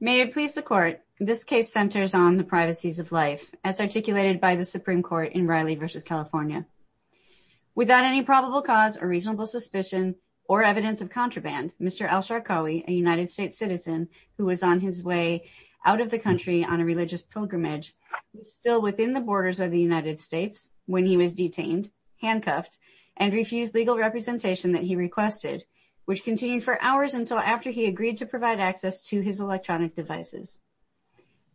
May it please the Court, this case centers on the privacies of life, as articulated by the Supreme Court in Riley v. California. Without any probable cause or reasonable suspicion or evidence of contraband, Mr. Elsharkawi, a United States citizen who was on his way out of the country on a religious pilgrimage, was still within the borders of the United States when he was detained, handcuffed, and refused legal representation that he requested, which continued for hours until after he agreed to provide access to his electronic devices.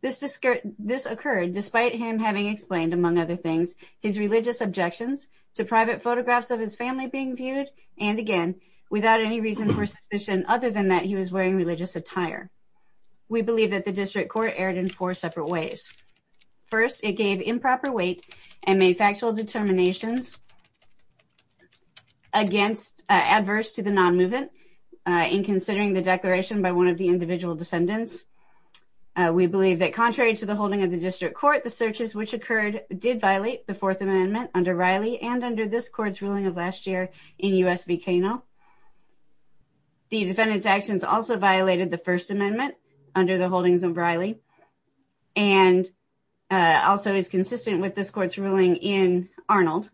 This occurred despite him having explained, among other things, his religious objections to private photographs of his family being viewed, and again, without any reason for suspicion other than that he was wearing religious attire. We believe that the District Court erred in four separate ways. First, it gave improper weight and made factual determinations against adverse to the non-movement in considering the declaration by one of the individual defendants. We believe that, contrary to the holding of the District Court, the searches which occurred did violate the Fourth Amendment under Riley and under this court's ruling of last year in US v. Cano. The defendant's actions also violated the First Amendment under the holdings of Riley, and also is consistent with this court's ruling in Arnold.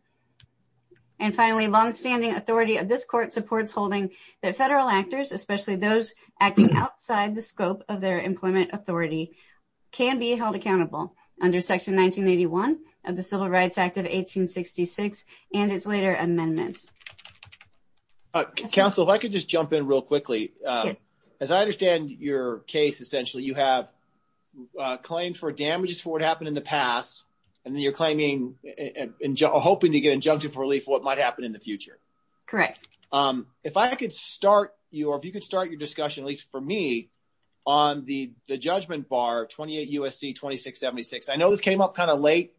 And finally, long-standing authority of this court supports holding that federal actors, especially those acting outside the scope of their employment authority, can be held accountable under Section 1981 of the Civil Rights Act of 1866 and its later amendments. Counsel, if I could just jump in real quickly. As I understand your case, essentially, you have claimed for damages for what happened in the past, and you're hoping to get injunctive relief for what might happen in the future. Correct. If I could start your discussion, at least for me, on the judgment bar, 28 U.S.C. 2676. I know this came up kind of late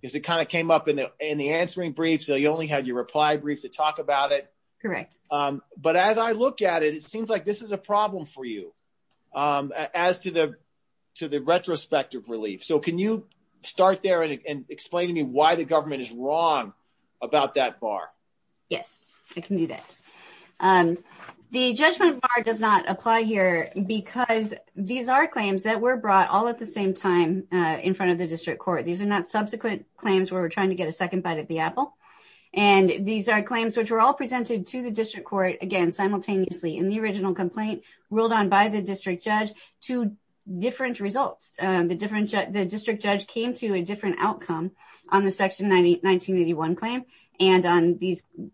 because it kind of came up in the answering brief, so you only had your reply brief to talk about it. Correct. But as I look at it, it seems like this is a problem for you as to the retrospective relief. Can you start there and explain to me why the government is wrong about that bar? Yes, I can do that. The judgment bar does not apply here because these are claims that were brought all at the same time in front of the district court. These are not subsequent claims where we're trying to get a second bite at the apple. And these are claims which were all presented to the district court, again, simultaneously in the original complaint, ruled on by the district judge, two different results. The district judge came to a different outcome on the Section 1981 claim and on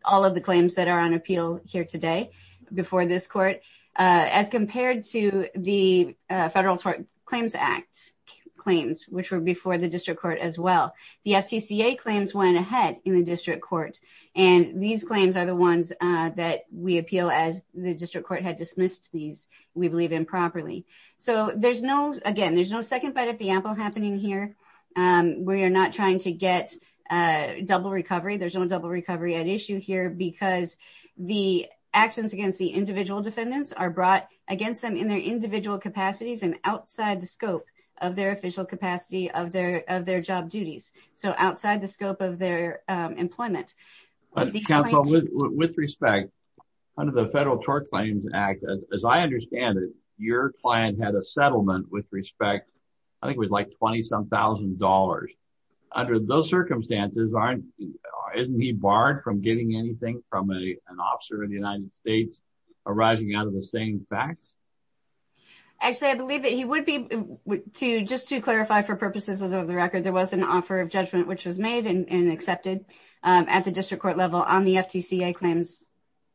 all of the claims that are on appeal here today before this court as compared to the Federal Tort Claims Act claims, which were before the district court as well. The FTCA claims went ahead in the district court, and these claims are the ones that we appeal as the district court had dismissed these, we believe, improperly. So there's no, again, there's no second bite at the apple happening here. We are not trying to get a double recovery. There's no double recovery at issue here because the actions against the individual defendants are brought against them in their individual capacities and outside the scope of their official capacity of their job duties. So outside the scope of their employment. Counsel, with respect, under the Federal Tort Claims Act, as I understand it, your client had a settlement with respect, I think it was like 20-some thousand dollars. Under those circumstances, isn't he barred from getting anything from an officer in the United States arising out of the same facts? Actually, I believe that he would be, just to clarify for purposes of the record, there was an offer of judgment which was made and accepted at the district court level on the FTCA claims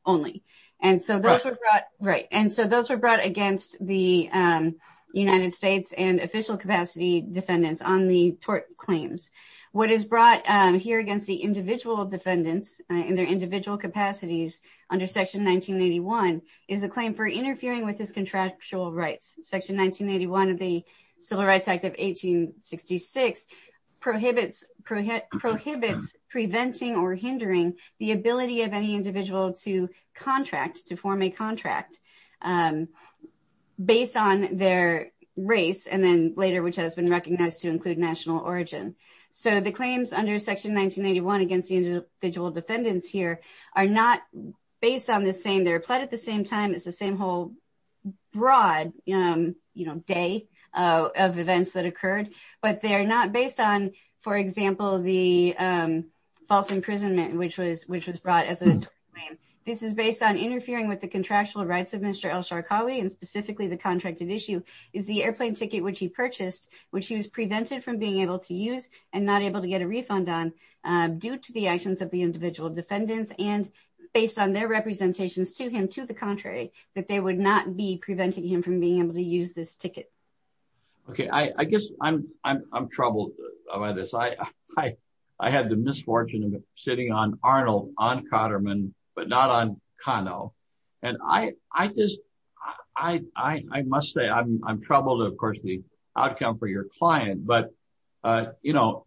only. And so those were brought against the United States and official capacity defendants on the tort claims. What is brought here against the individual defendants in their individual capacities under Section 1981 is a claim for interfering with his contractual rights. Section 1981 of the Civil Rights Act of 1866 prohibits preventing or hindering the ability of any individual to contract, to form a contract based on their race and then later, which has been recognized to include national origin. So the claims under Section 1981 against the individual defendants here are not based on their plight at the same time. It's the same whole broad day of events that occurred. But they're not based on, for example, the false imprisonment which was brought as a tort claim. This is based on interfering with the contractual rights of Mr. Elsharqawi and specifically the contracted issue is the airplane ticket which he purchased, which he was prevented from being able to use and not able to get a refund on due to the actions of the individual defendants and based on their representations to him, to the contrary, that they would not be preventing him from being able to use this ticket. Okay. I guess I'm troubled by this. I had the misfortune of sitting on Arnold, on Cotterman, but not on Kano. And I just, I must say I'm troubled, of course, the outcome for your client. But, you know,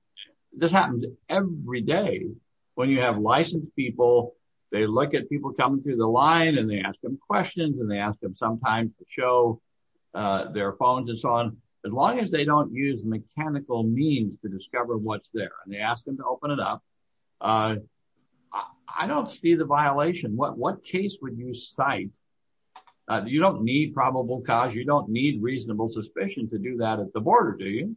this happens every day when you have licensed people, they look at people coming through the line and they ask them questions and they ask them sometimes to show their phones and so on, as long as they don't use mechanical means to discover what's there and they ask them to open it up. I don't see the violation. What case would you cite? You don't need probable cause. You don't need reasonable suspicion to do that at the border, do you?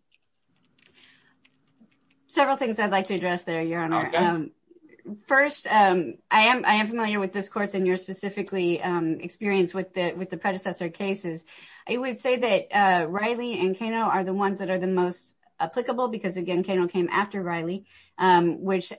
Several things I'd like to address there, Your Honor. First, I am familiar with this court and your specifically experience with the predecessor cases. I would say that Riley and Kano are the ones that are the most applicable because, again, Kano came after Riley, which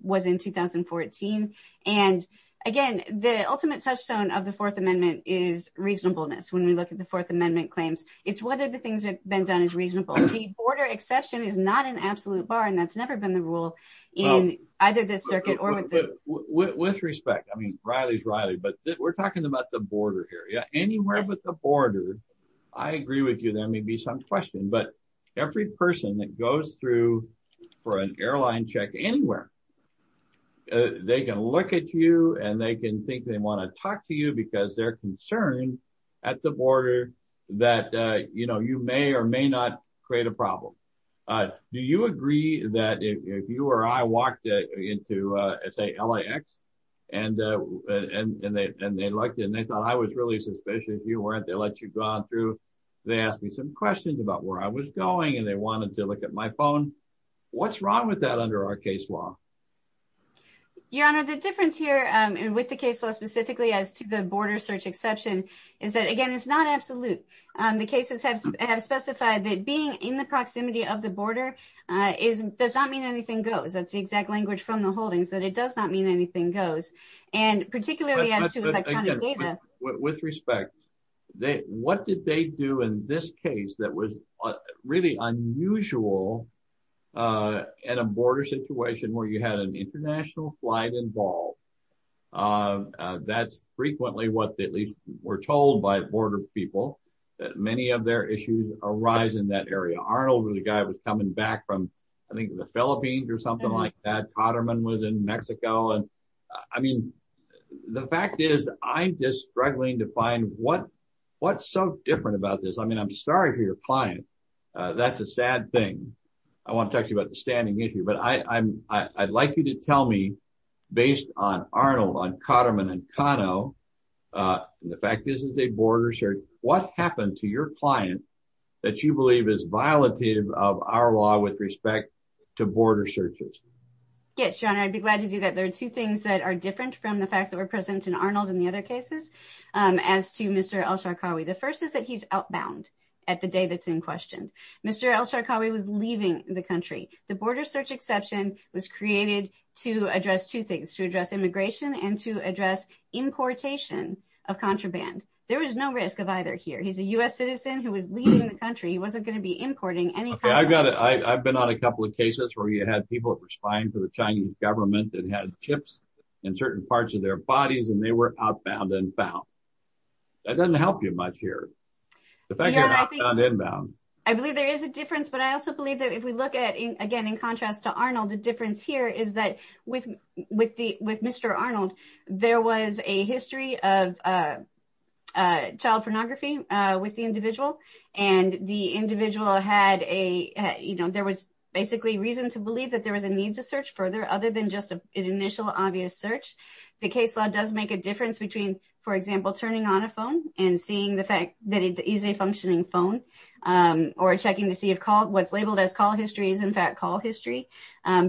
was in 2014. And again, the ultimate touchstone of the Fourth Amendment is reasonableness. When we look at the Fourth Amendment claims, it's whether the things that have been done is reasonable. The border exception is not an absolute bar and that's never been the rule in either the circuit or with respect. I mean, Riley's Riley. But we're talking about the border here. Anywhere but the border, I agree with you, there may be some question. But every person that goes through for an airline check anywhere, they can look at you and they can think they want to talk to you because they're concerned at the border that you may or may not create a problem. Do you agree that if you or I walked into, say, LAX and they looked and they thought I was really suspicious, you weren't, they let you go on through, they asked me some questions about where I was going and they wanted to look at my phone. What's wrong with that under our case law? Your Honor, the difference here and with the case law specifically as to the border search exception is that, again, it's not absolute. The cases have specified that being in the proximity of the border does not mean anything goes. That's the exact language from the holdings, that it does not mean anything goes. And particularly as to electronic data. With respect, what did they do in this case that was really unusual in a border situation where you had an international flight involved? Uh, that's frequently what at least we're told by border people that many of their issues arise in that area. Arnold was a guy was coming back from, I think the Philippines or something like that. Cotterman was in Mexico. And I mean, the fact is I'm just struggling to find what, what's so different about this. I mean, I'm sorry for your client. That's a sad thing. I want to talk to you about the standing issue. I'd like you to tell me based on Arnold, on Cotterman and Cano. The fact is that they border search. What happened to your client that you believe is violative of our law with respect to border searches? Yes, John, I'd be glad to do that. There are two things that are different from the facts that were present in Arnold and the other cases. As to Mr. Elsharkawi, the first is that he's outbound at the day that's in question. Mr. Elsharkawi was leaving the country. The border search exception was created to address two things, to address immigration and to address importation of contraband. There was no risk of either here. He's a U.S. citizen who was leaving the country. He wasn't going to be importing any. Okay, I've got it. I've been on a couple of cases where you had people that were spying for the Chinese government that had chips in certain parts of their bodies and they were outbound and found. That doesn't help you much here. The fact that you're outbound and inbound. I believe there is a difference. But I also believe that if we look at, again, in contrast to Arnold, the difference here is that with Mr. Arnold, there was a history of child pornography with the individual. And the individual had a, you know, there was basically reason to believe that there was a need to search further other than just an initial obvious search. The case law does make a difference between, for example, turning on a phone and seeing that it is a functioning phone or checking to see if what's labeled as call history is, in fact, call history,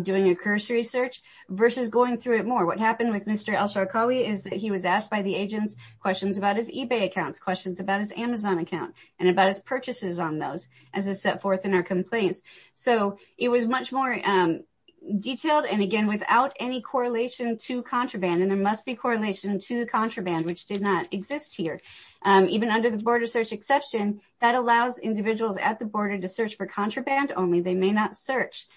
doing a cursory search versus going through it more. What happened with Mr. Al-Sharkawi is that he was asked by the agents questions about his eBay accounts, questions about his Amazon account, and about his purchases on those as a set forth in our complaints. So it was much more detailed and, again, without any correlation to contraband. And there must be correlation to contraband, which did not exist here. Even under the border search exception, that allows individuals at the border to search for contraband only. They may not search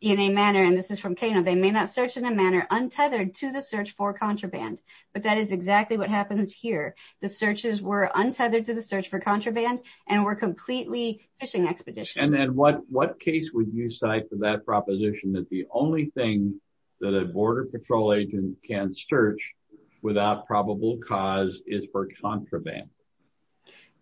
in a manner, and this is from Kano, they may not search in a manner untethered to the search for contraband. But that is exactly what happened here. The searches were untethered to the search for contraband and were completely fishing expeditions. And then what case would you cite for that proposition that the only thing that a border patrol agent can search without probable cause is for contraband?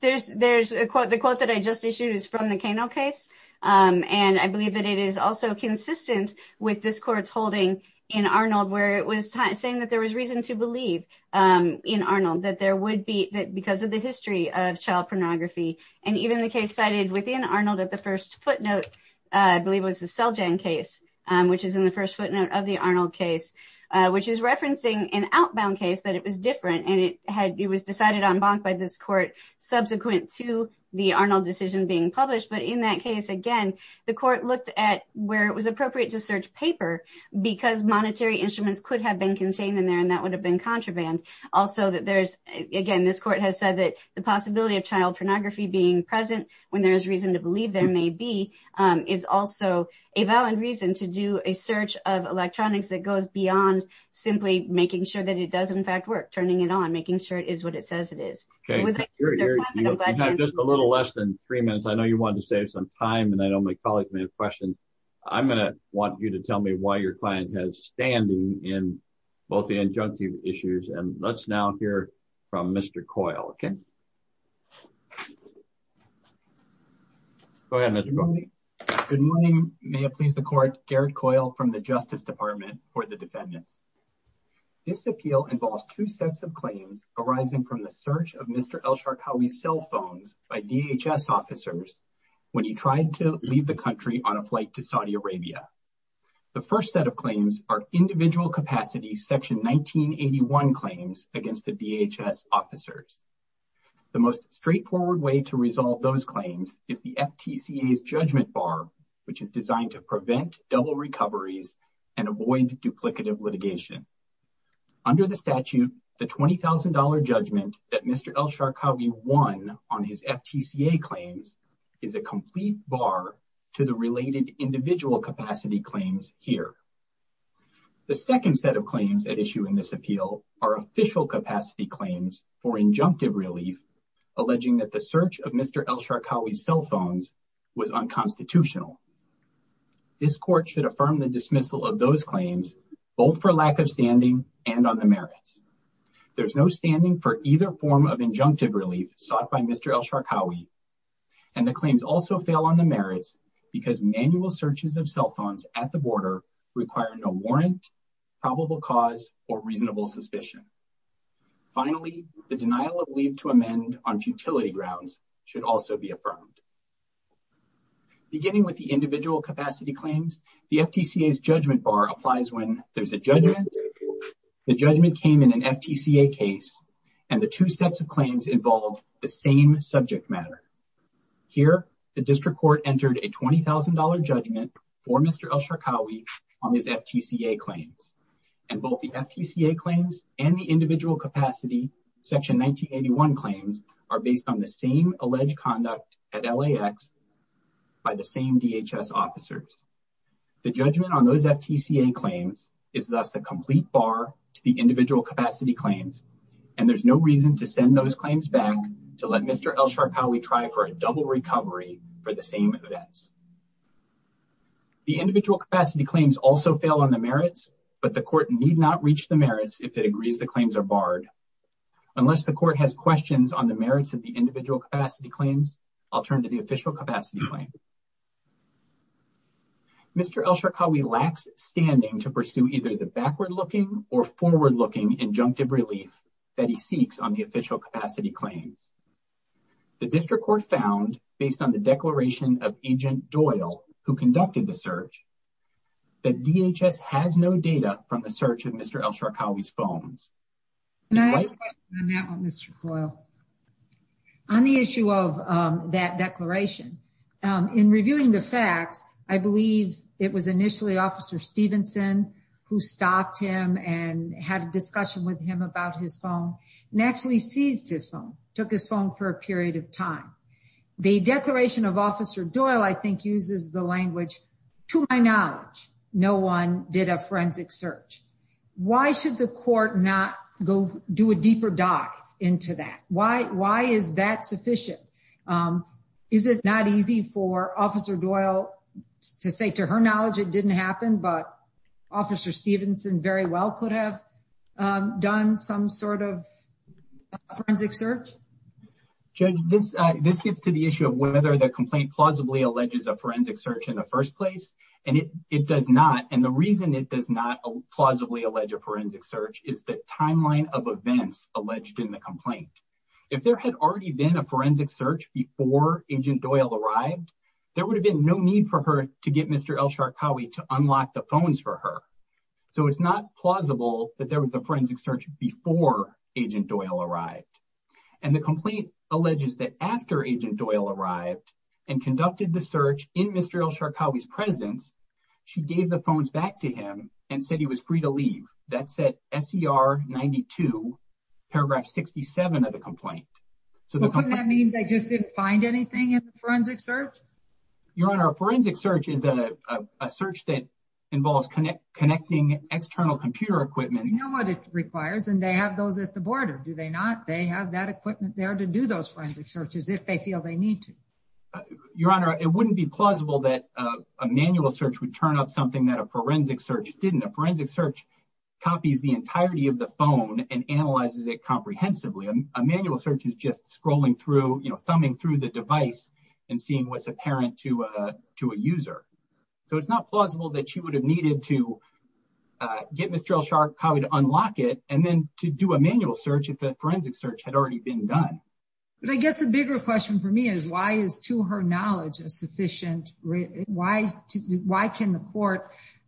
There's a quote, the quote that I just issued is from the Kano case. And I believe that it is also consistent with this court's holding in Arnold where it was saying that there was reason to believe in Arnold that there would be, that because of the history of child pornography, and even the case cited within Arnold at the first footnote, I believe it was the Seljan case, which is in the first footnote of the Arnold case, which is referencing an outbound case that it was different. And it had, it was decided en banc by this court subsequent to the Arnold decision being published. But in that case, again, the court looked at where it was appropriate to search paper because monetary instruments could have been contained in there and that would have been contraband. Also that there's, again, this court has said that the possibility of child pornography being present when there is reason to believe there may be, is also a valid reason to do a search of electronics that goes beyond simply making sure that it does, in fact, work, turning it on, making sure it is what it says it is. Okay. You have just a little less than three minutes. I know you wanted to save some time and I know my colleagues may have questions. I'm going to want you to tell me why your client has standing in both the injunctive issues and let's now hear from Mr. Coyle. Okay. Go ahead, Mr. Coyle. Good morning. May it please the court, Garrett Coyle from the Justice Department for the defendants. This appeal involves two sets of claims arising from the search of Mr. Elsharkawi's cell phones by DHS officers when he tried to leave the country on a flight to Saudi Arabia. The first set of claims are individual capacity section 1981 claims against the DHS officers. The most straightforward way to resolve those claims is the FTCA's judgment bar, which is designed to prevent double recoveries and avoid duplicative litigation. Under the statute, the $20,000 judgment that Mr. Elsharkawi won on his FTCA claims is a complete bar to the related individual capacity claims here. The second set of claims at issue in this appeal are official capacity claims for injunctive relief alleging that the search of Mr. Elsharkawi's cell phones was unconstitutional. This court should affirm the dismissal of those claims both for lack of standing and on the merits. There's no standing for either form of injunctive relief sought by Mr. Elsharkawi and the claims also fail on the merits because manual searches of cell phones at the border require no warrant, probable cause, or reasonable suspicion. Finally, the denial of leave to amend on futility grounds should also be affirmed. Beginning with the individual capacity claims, the FTCA's judgment bar applies when there's a judgment, the judgment came in an FTCA case, and the two sets of claims involve the same subject matter. Here, the district court entered a $20,000 judgment for Mr. Elsharkawi on his FTCA claims, and both the FTCA claims and the individual capacity section 1981 claims are based on the same alleged conduct at LAX by the same DHS officers. The judgment on those FTCA claims is thus the complete bar to the individual capacity claims, and there's no reason to send those claims back to let Mr. Elsharkawi try for a double recovery for the same events. The individual capacity claims also fail on the merits, but the court need not reach the merits if it agrees the claims are barred. Unless the court has questions on the merits of the individual capacity claims, I'll turn to the official capacity claim. Mr. Elsharkawi lacks standing to pursue either the backward-looking or forward-looking injunctive relief that he seeks on the official capacity claims. The district court found, based on the Doyle who conducted the search, that DHS has no data from the search of Mr. Elsharkawi's phones. And I have a question on that one, Mr. Coyle, on the issue of that declaration. In reviewing the facts, I believe it was initially Officer Stevenson who stopped him and had a discussion with him about his phone and actually seized his phone, took his phone for a period of time. The declaration of Officer Doyle, I think, uses the language, to my knowledge, no one did a forensic search. Why should the court not go do a deeper dive into that? Why is that sufficient? Is it not easy for Officer Doyle to say, to her knowledge, it didn't happen, but Officer Stevenson very well could have done some sort of forensic search? Judge, this gets to the issue of whether the complaint plausibly alleges a forensic search in the first place, and it does not. And the reason it does not plausibly allege a forensic search is the timeline of events alleged in the complaint. If there had already been a forensic search before Agent Doyle arrived, there would have been no need for her to get Mr. Elsharkawi to unlock the phones for her. So it's not plausible that there was a forensic search before Agent Doyle arrived. And the complaint alleges that after Agent Doyle arrived and conducted the search in Mr. Elsharkawi's presence, she gave the phones back to him and said he was free to leave. That's at SER 92, paragraph 67 of the complaint. Well, couldn't that mean they just didn't find anything in the forensic search? Your Honor, a forensic search is a search that involves connecting external computer equipment. You know what it requires, and they have those at the border, do they not? They have that equipment there to do those forensic searches if they feel they need to. Your Honor, it wouldn't be plausible that a manual search would turn up something that a forensic search didn't. A forensic search copies the entirety of the phone and analyzes it comprehensively. A manual search is just scrolling through, you know, thumbing through the device and seeing what's to a user. So it's not plausible that she would have needed to get Mr. Elsharkawi to unlock it and then to do a manual search if that forensic search had already been done. But I guess a bigger question for me is why is, to her knowledge, a sufficient... Why can the court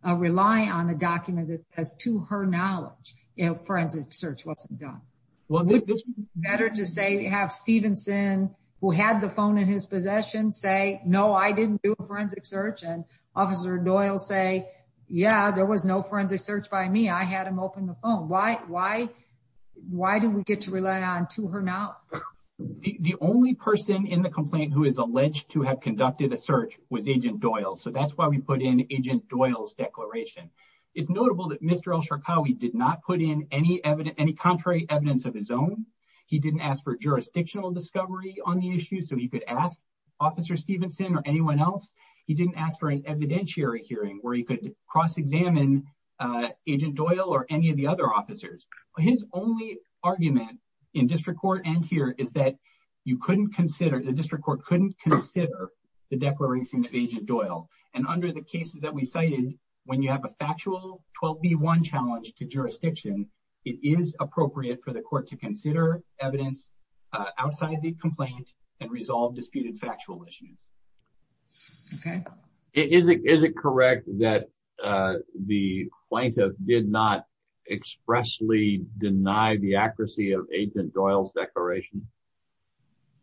rely on a document that says, to her knowledge, a forensic search wasn't done? Well, this would be better to say we have Stevenson, who had the phone in his possession, say, no, I didn't do a forensic search. And Officer Doyle say, yeah, there was no forensic search by me. I had him open the phone. Why did we get to rely on, to her knowledge? The only person in the complaint who is alleged to have conducted a search was Agent Doyle. So that's why we put in Agent Doyle's declaration. It's notable that Mr. Elsharkawi did not put in any contrary evidence of his own. He didn't ask for jurisdictional discovery on the issue. So he could ask Officer Stevenson or anyone else. He didn't ask for an evidentiary hearing where he could cross-examine Agent Doyle or any of the other officers. His only argument in district court and here is that the district court couldn't consider the declaration of Agent Doyle. And under the cases that we cited, when you have a factual 12B1 challenge to jurisdiction, it is appropriate for the court to consider evidence outside the complaint and resolve disputed factual issues. Okay. Is it correct that the plaintiff did not expressly deny the accuracy of Agent Doyle's declaration?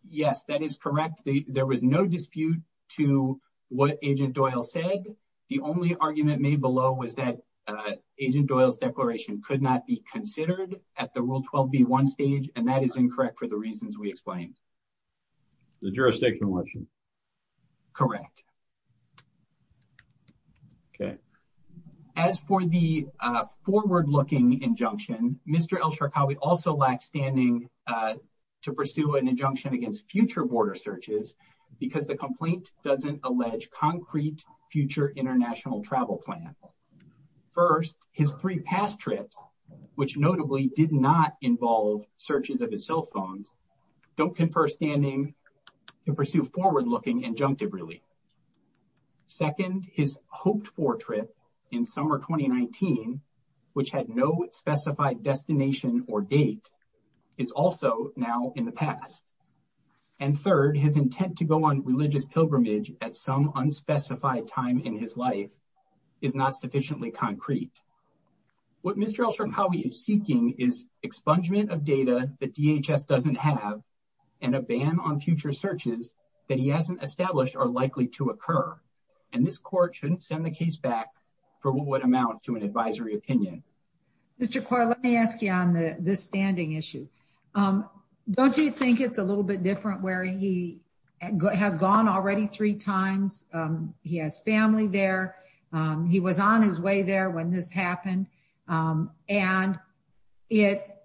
Yes, that is correct. There was no dispute to what Agent Doyle said. The only argument made below was that Agent Doyle's declaration could not be considered at the Rule 12B1 stage and that is incorrect for the reasons we explained. The jurisdictional issue? Correct. Okay. As for the forward-looking injunction, Mr. Elsharkawi also lacks standing to pursue an injunction against future border searches because the complaint doesn't allege concrete future international travel plans. First, his three past trips, which notably did not involve searches of his cell phones, don't confer standing to pursue forward-looking injunctive relief. Second, his hoped-for trip in summer 2019, which had no specified destination or date, is also now in the past. And third, his intent to go on religious pilgrimage at some unspecified time in his life is not sufficiently concrete. What Mr. Elsharkawi is seeking is expungement of data that DHS doesn't have and a ban on future searches that he hasn't established are likely to occur. And this court shouldn't send the case back for what would amount to an advisory opinion. Mr. Coyle, let me ask you on the standing issue. Don't you think it's a little bit different where he has gone already three times? He has family there. He was on his way there when this happened. And it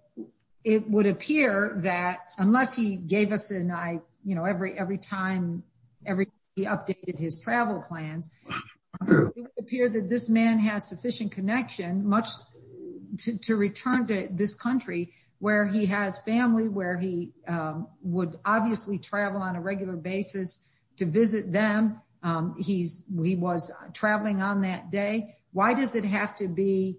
would appear that, unless he gave us an eye, you know, every time he updated his travel plans, it would appear that this man has sufficient connection, much to return to this country, where he has family, where he would obviously travel on a regular basis to visit them. He was traveling on that day. Why does it have to be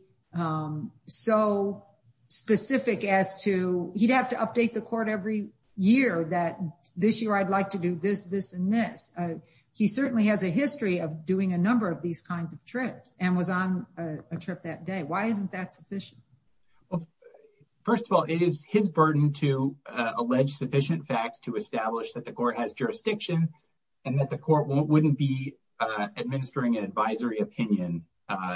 so specific as to he'd have to update the court every year that this year I'd like to do this, this, and this? He certainly has a history of doing a number of these kinds of trips and was on a trip that day. Why isn't that sufficient? Well, first of all, it is his burden to allege sufficient facts to establish that the court has jurisdiction and that the court wouldn't be administering an advisory opinion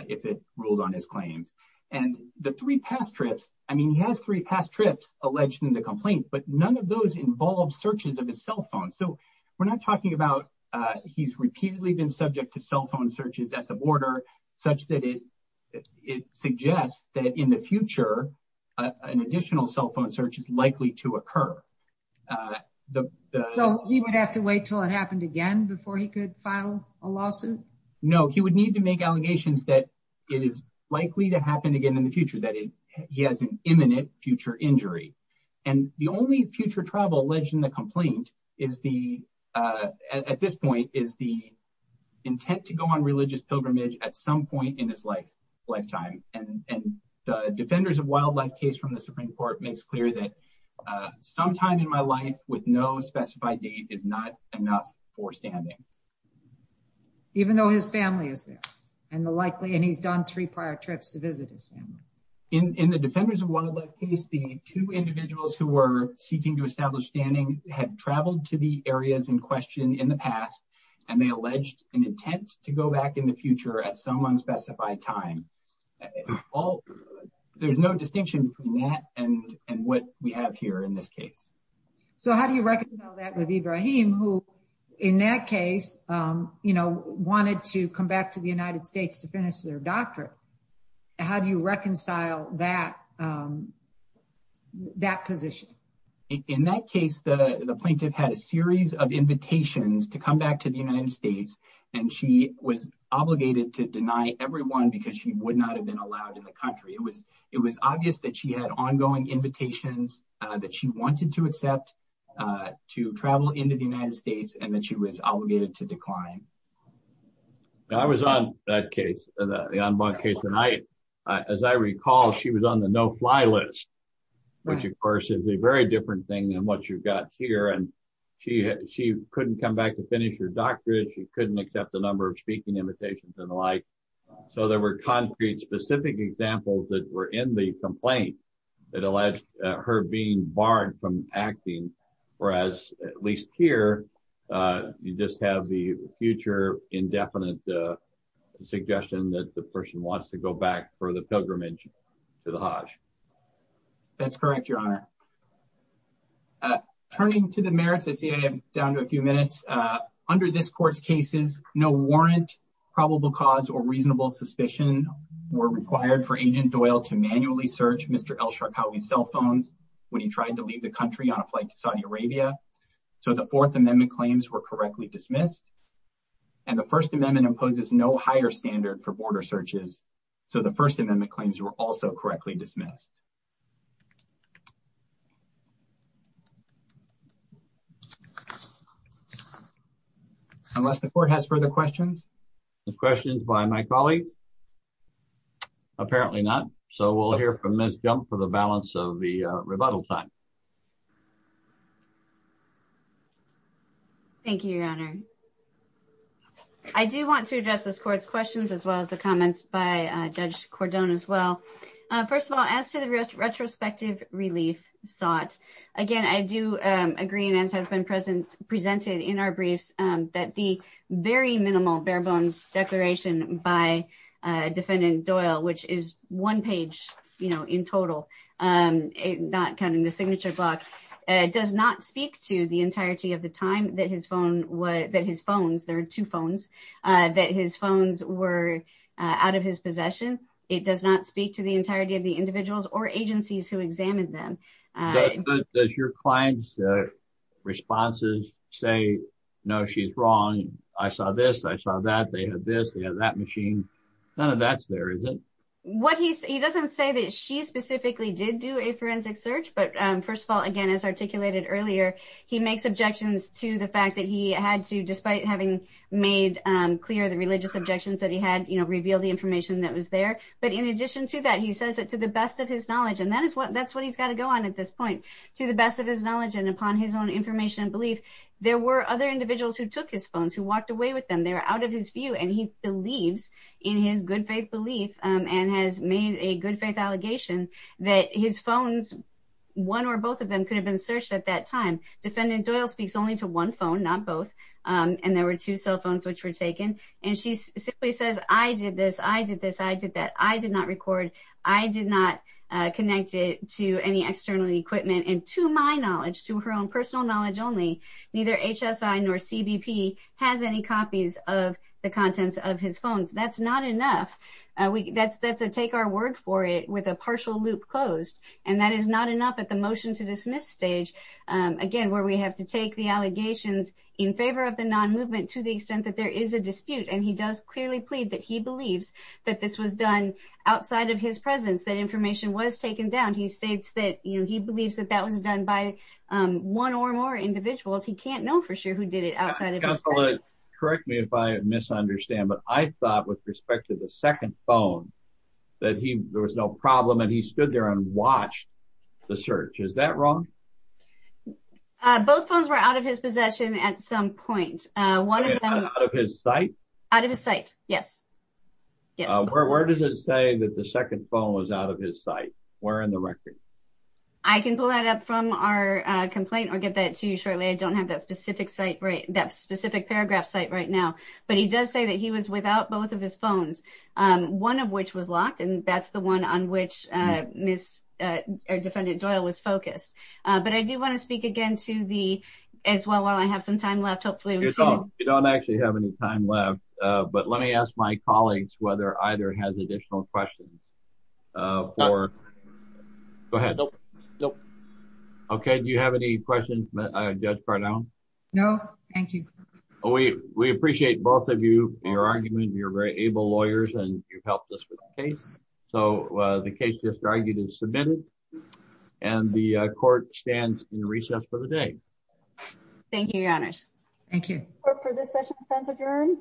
if it ruled on his claims. And the three past trips, I mean, he has three past trips alleged in the complaint, but none of those involve searches of his cell phone. So we're not talking about he's repeatedly been subject to cell phone searches at the border such that it suggests that in the future, an additional cell phone search is likely to occur. So he would have to wait till it happened again before he could file a lawsuit? No, he would need to make allegations that it is likely to happen again in the future, that he has an imminent future injury. And the only future trouble alleged in the complaint at this point is the intent to go on religious pilgrimage at some point in his lifetime. And the Defenders of Wildlife case from the Supreme Court makes clear that sometime in my life with no specified date is not enough for standing. Even though his family is there and he's done three prior trips to visit his family. In the Defenders of Wildlife case, the two individuals who were seeking to establish standing had traveled to the areas in question in the past, and they alleged an intent to go back in the future at some unspecified time. There's no distinction between that and what we have here in this case. So how do you reconcile that with Ibrahim who, in that case, wanted to come back to the United States? In that case, the plaintiff had a series of invitations to come back to the United States, and she was obligated to deny everyone because she would not have been allowed in the country. It was obvious that she had ongoing invitations that she wanted to accept to travel into the United States and that she was obligated to decline. I was on that case, the en banc case, and as I recall, she was on the no-fly list, which of course is a very different thing than what you've got here. And she couldn't come back to finish her doctorate. She couldn't accept a number of speaking invitations and the like. So there were concrete, specific examples that were in the complaint that alleged her being indefinite, the suggestion that the person wants to go back for the pilgrimage to the Hajj. That's correct, Your Honor. Turning to the merits, I see I am down to a few minutes. Under this court's cases, no warrant, probable cause, or reasonable suspicion were required for Agent Doyle to manually search Mr. El-Sharkawi's cell phones when he tried to leave the country on a flight to Saudi Arabia. So the Fourth Amendment claims were correctly dismissed. And the First Amendment imposes no higher standard for border searches, so the First Amendment claims were also correctly dismissed. Unless the court has further questions? No questions by my colleague? Apparently not. So we'll hear from Ms. Jump for the balance of the rebuttal time. Thank you, Your Honor. I do want to address this court's questions as well as the comments by Judge Cordon as well. First of all, as to the retrospective relief sought, again, I do agree, and as has been presented in our briefs, that the very minimal bare-bones declaration by Defendant Doyle, which is one page, you know, in total, not counting the signature block, does not speak to the entirety of the time that his phone, that his phones, there are two phones, that his phones were out of his possession. It does not speak to the entirety of the individuals or agencies who examined them. Does your client's responses say, no, she's wrong, I saw this, I saw that, they have this, they have that machine, none of that's there, is it? He doesn't say that she specifically did do a forensic search, but first of all, again, as articulated earlier, he makes objections to the fact that he had to, despite having made clear the religious objections that he had, you know, reveal the information that was there, but in addition to that, he says that to the best of his knowledge, and that's what he's got to go on at this point, to the best of his knowledge and upon his own information and belief, there were other individuals who took his phones, who walked away with them, they were out of his view, and he believes in his good faith belief and has made a good faith allegation that his phones, one or both of them could have been searched at that time. Defendant Doyle speaks only to one phone, not both, and there were two cell phones which were taken, and she simply says, I did this, I did this, I did that, I did not record, I did not connect it to any external equipment, and to my knowledge, to her own personal knowledge only, neither HSI nor CBP has any copies of the contents of his phones. That's not enough. That's a take our word for it with a partial loop closed, and that is not enough at the motion to dismiss stage, again, where we have to take the allegations in favor of the non-movement to the extent that there is a dispute, and he does clearly plead that he believes that this was done outside of his presence, that information was taken down. He states that, you know, he believes that that was done by one or more individuals. He can't know for sure who did it outside of his presence. Correct me if I misunderstand, but I thought with respect to the second phone that he, there was no problem, and he stood there and watched the search. Is that wrong? Both phones were out of his possession at some point. Out of his sight? Out of his sight, yes. Where does it say that the second phone was out of his sight? Where in the record? I can pull that up from our complaint, or get that to you shortly. I don't have that specific site right, that specific paragraph site right now, but he does say that he was without both of his phones, one of which was locked, and that's the one on which Ms., or Defendant Doyle was focused, but I do want to speak again to the, as well, while I have some time left, hopefully. You don't actually have any time left, but let me ask my colleagues whether either has additional questions for, go ahead. Nope, nope. Okay, do you have any questions, Judge Cardone? No, thank you. We appreciate both of you, your argument, you're very able lawyers, and you've helped us with the case, so the case just argued is submitted, and the court stands in recess for the day. Thank you, Your Honors. Thank you. Court, for this session, defense adjourned.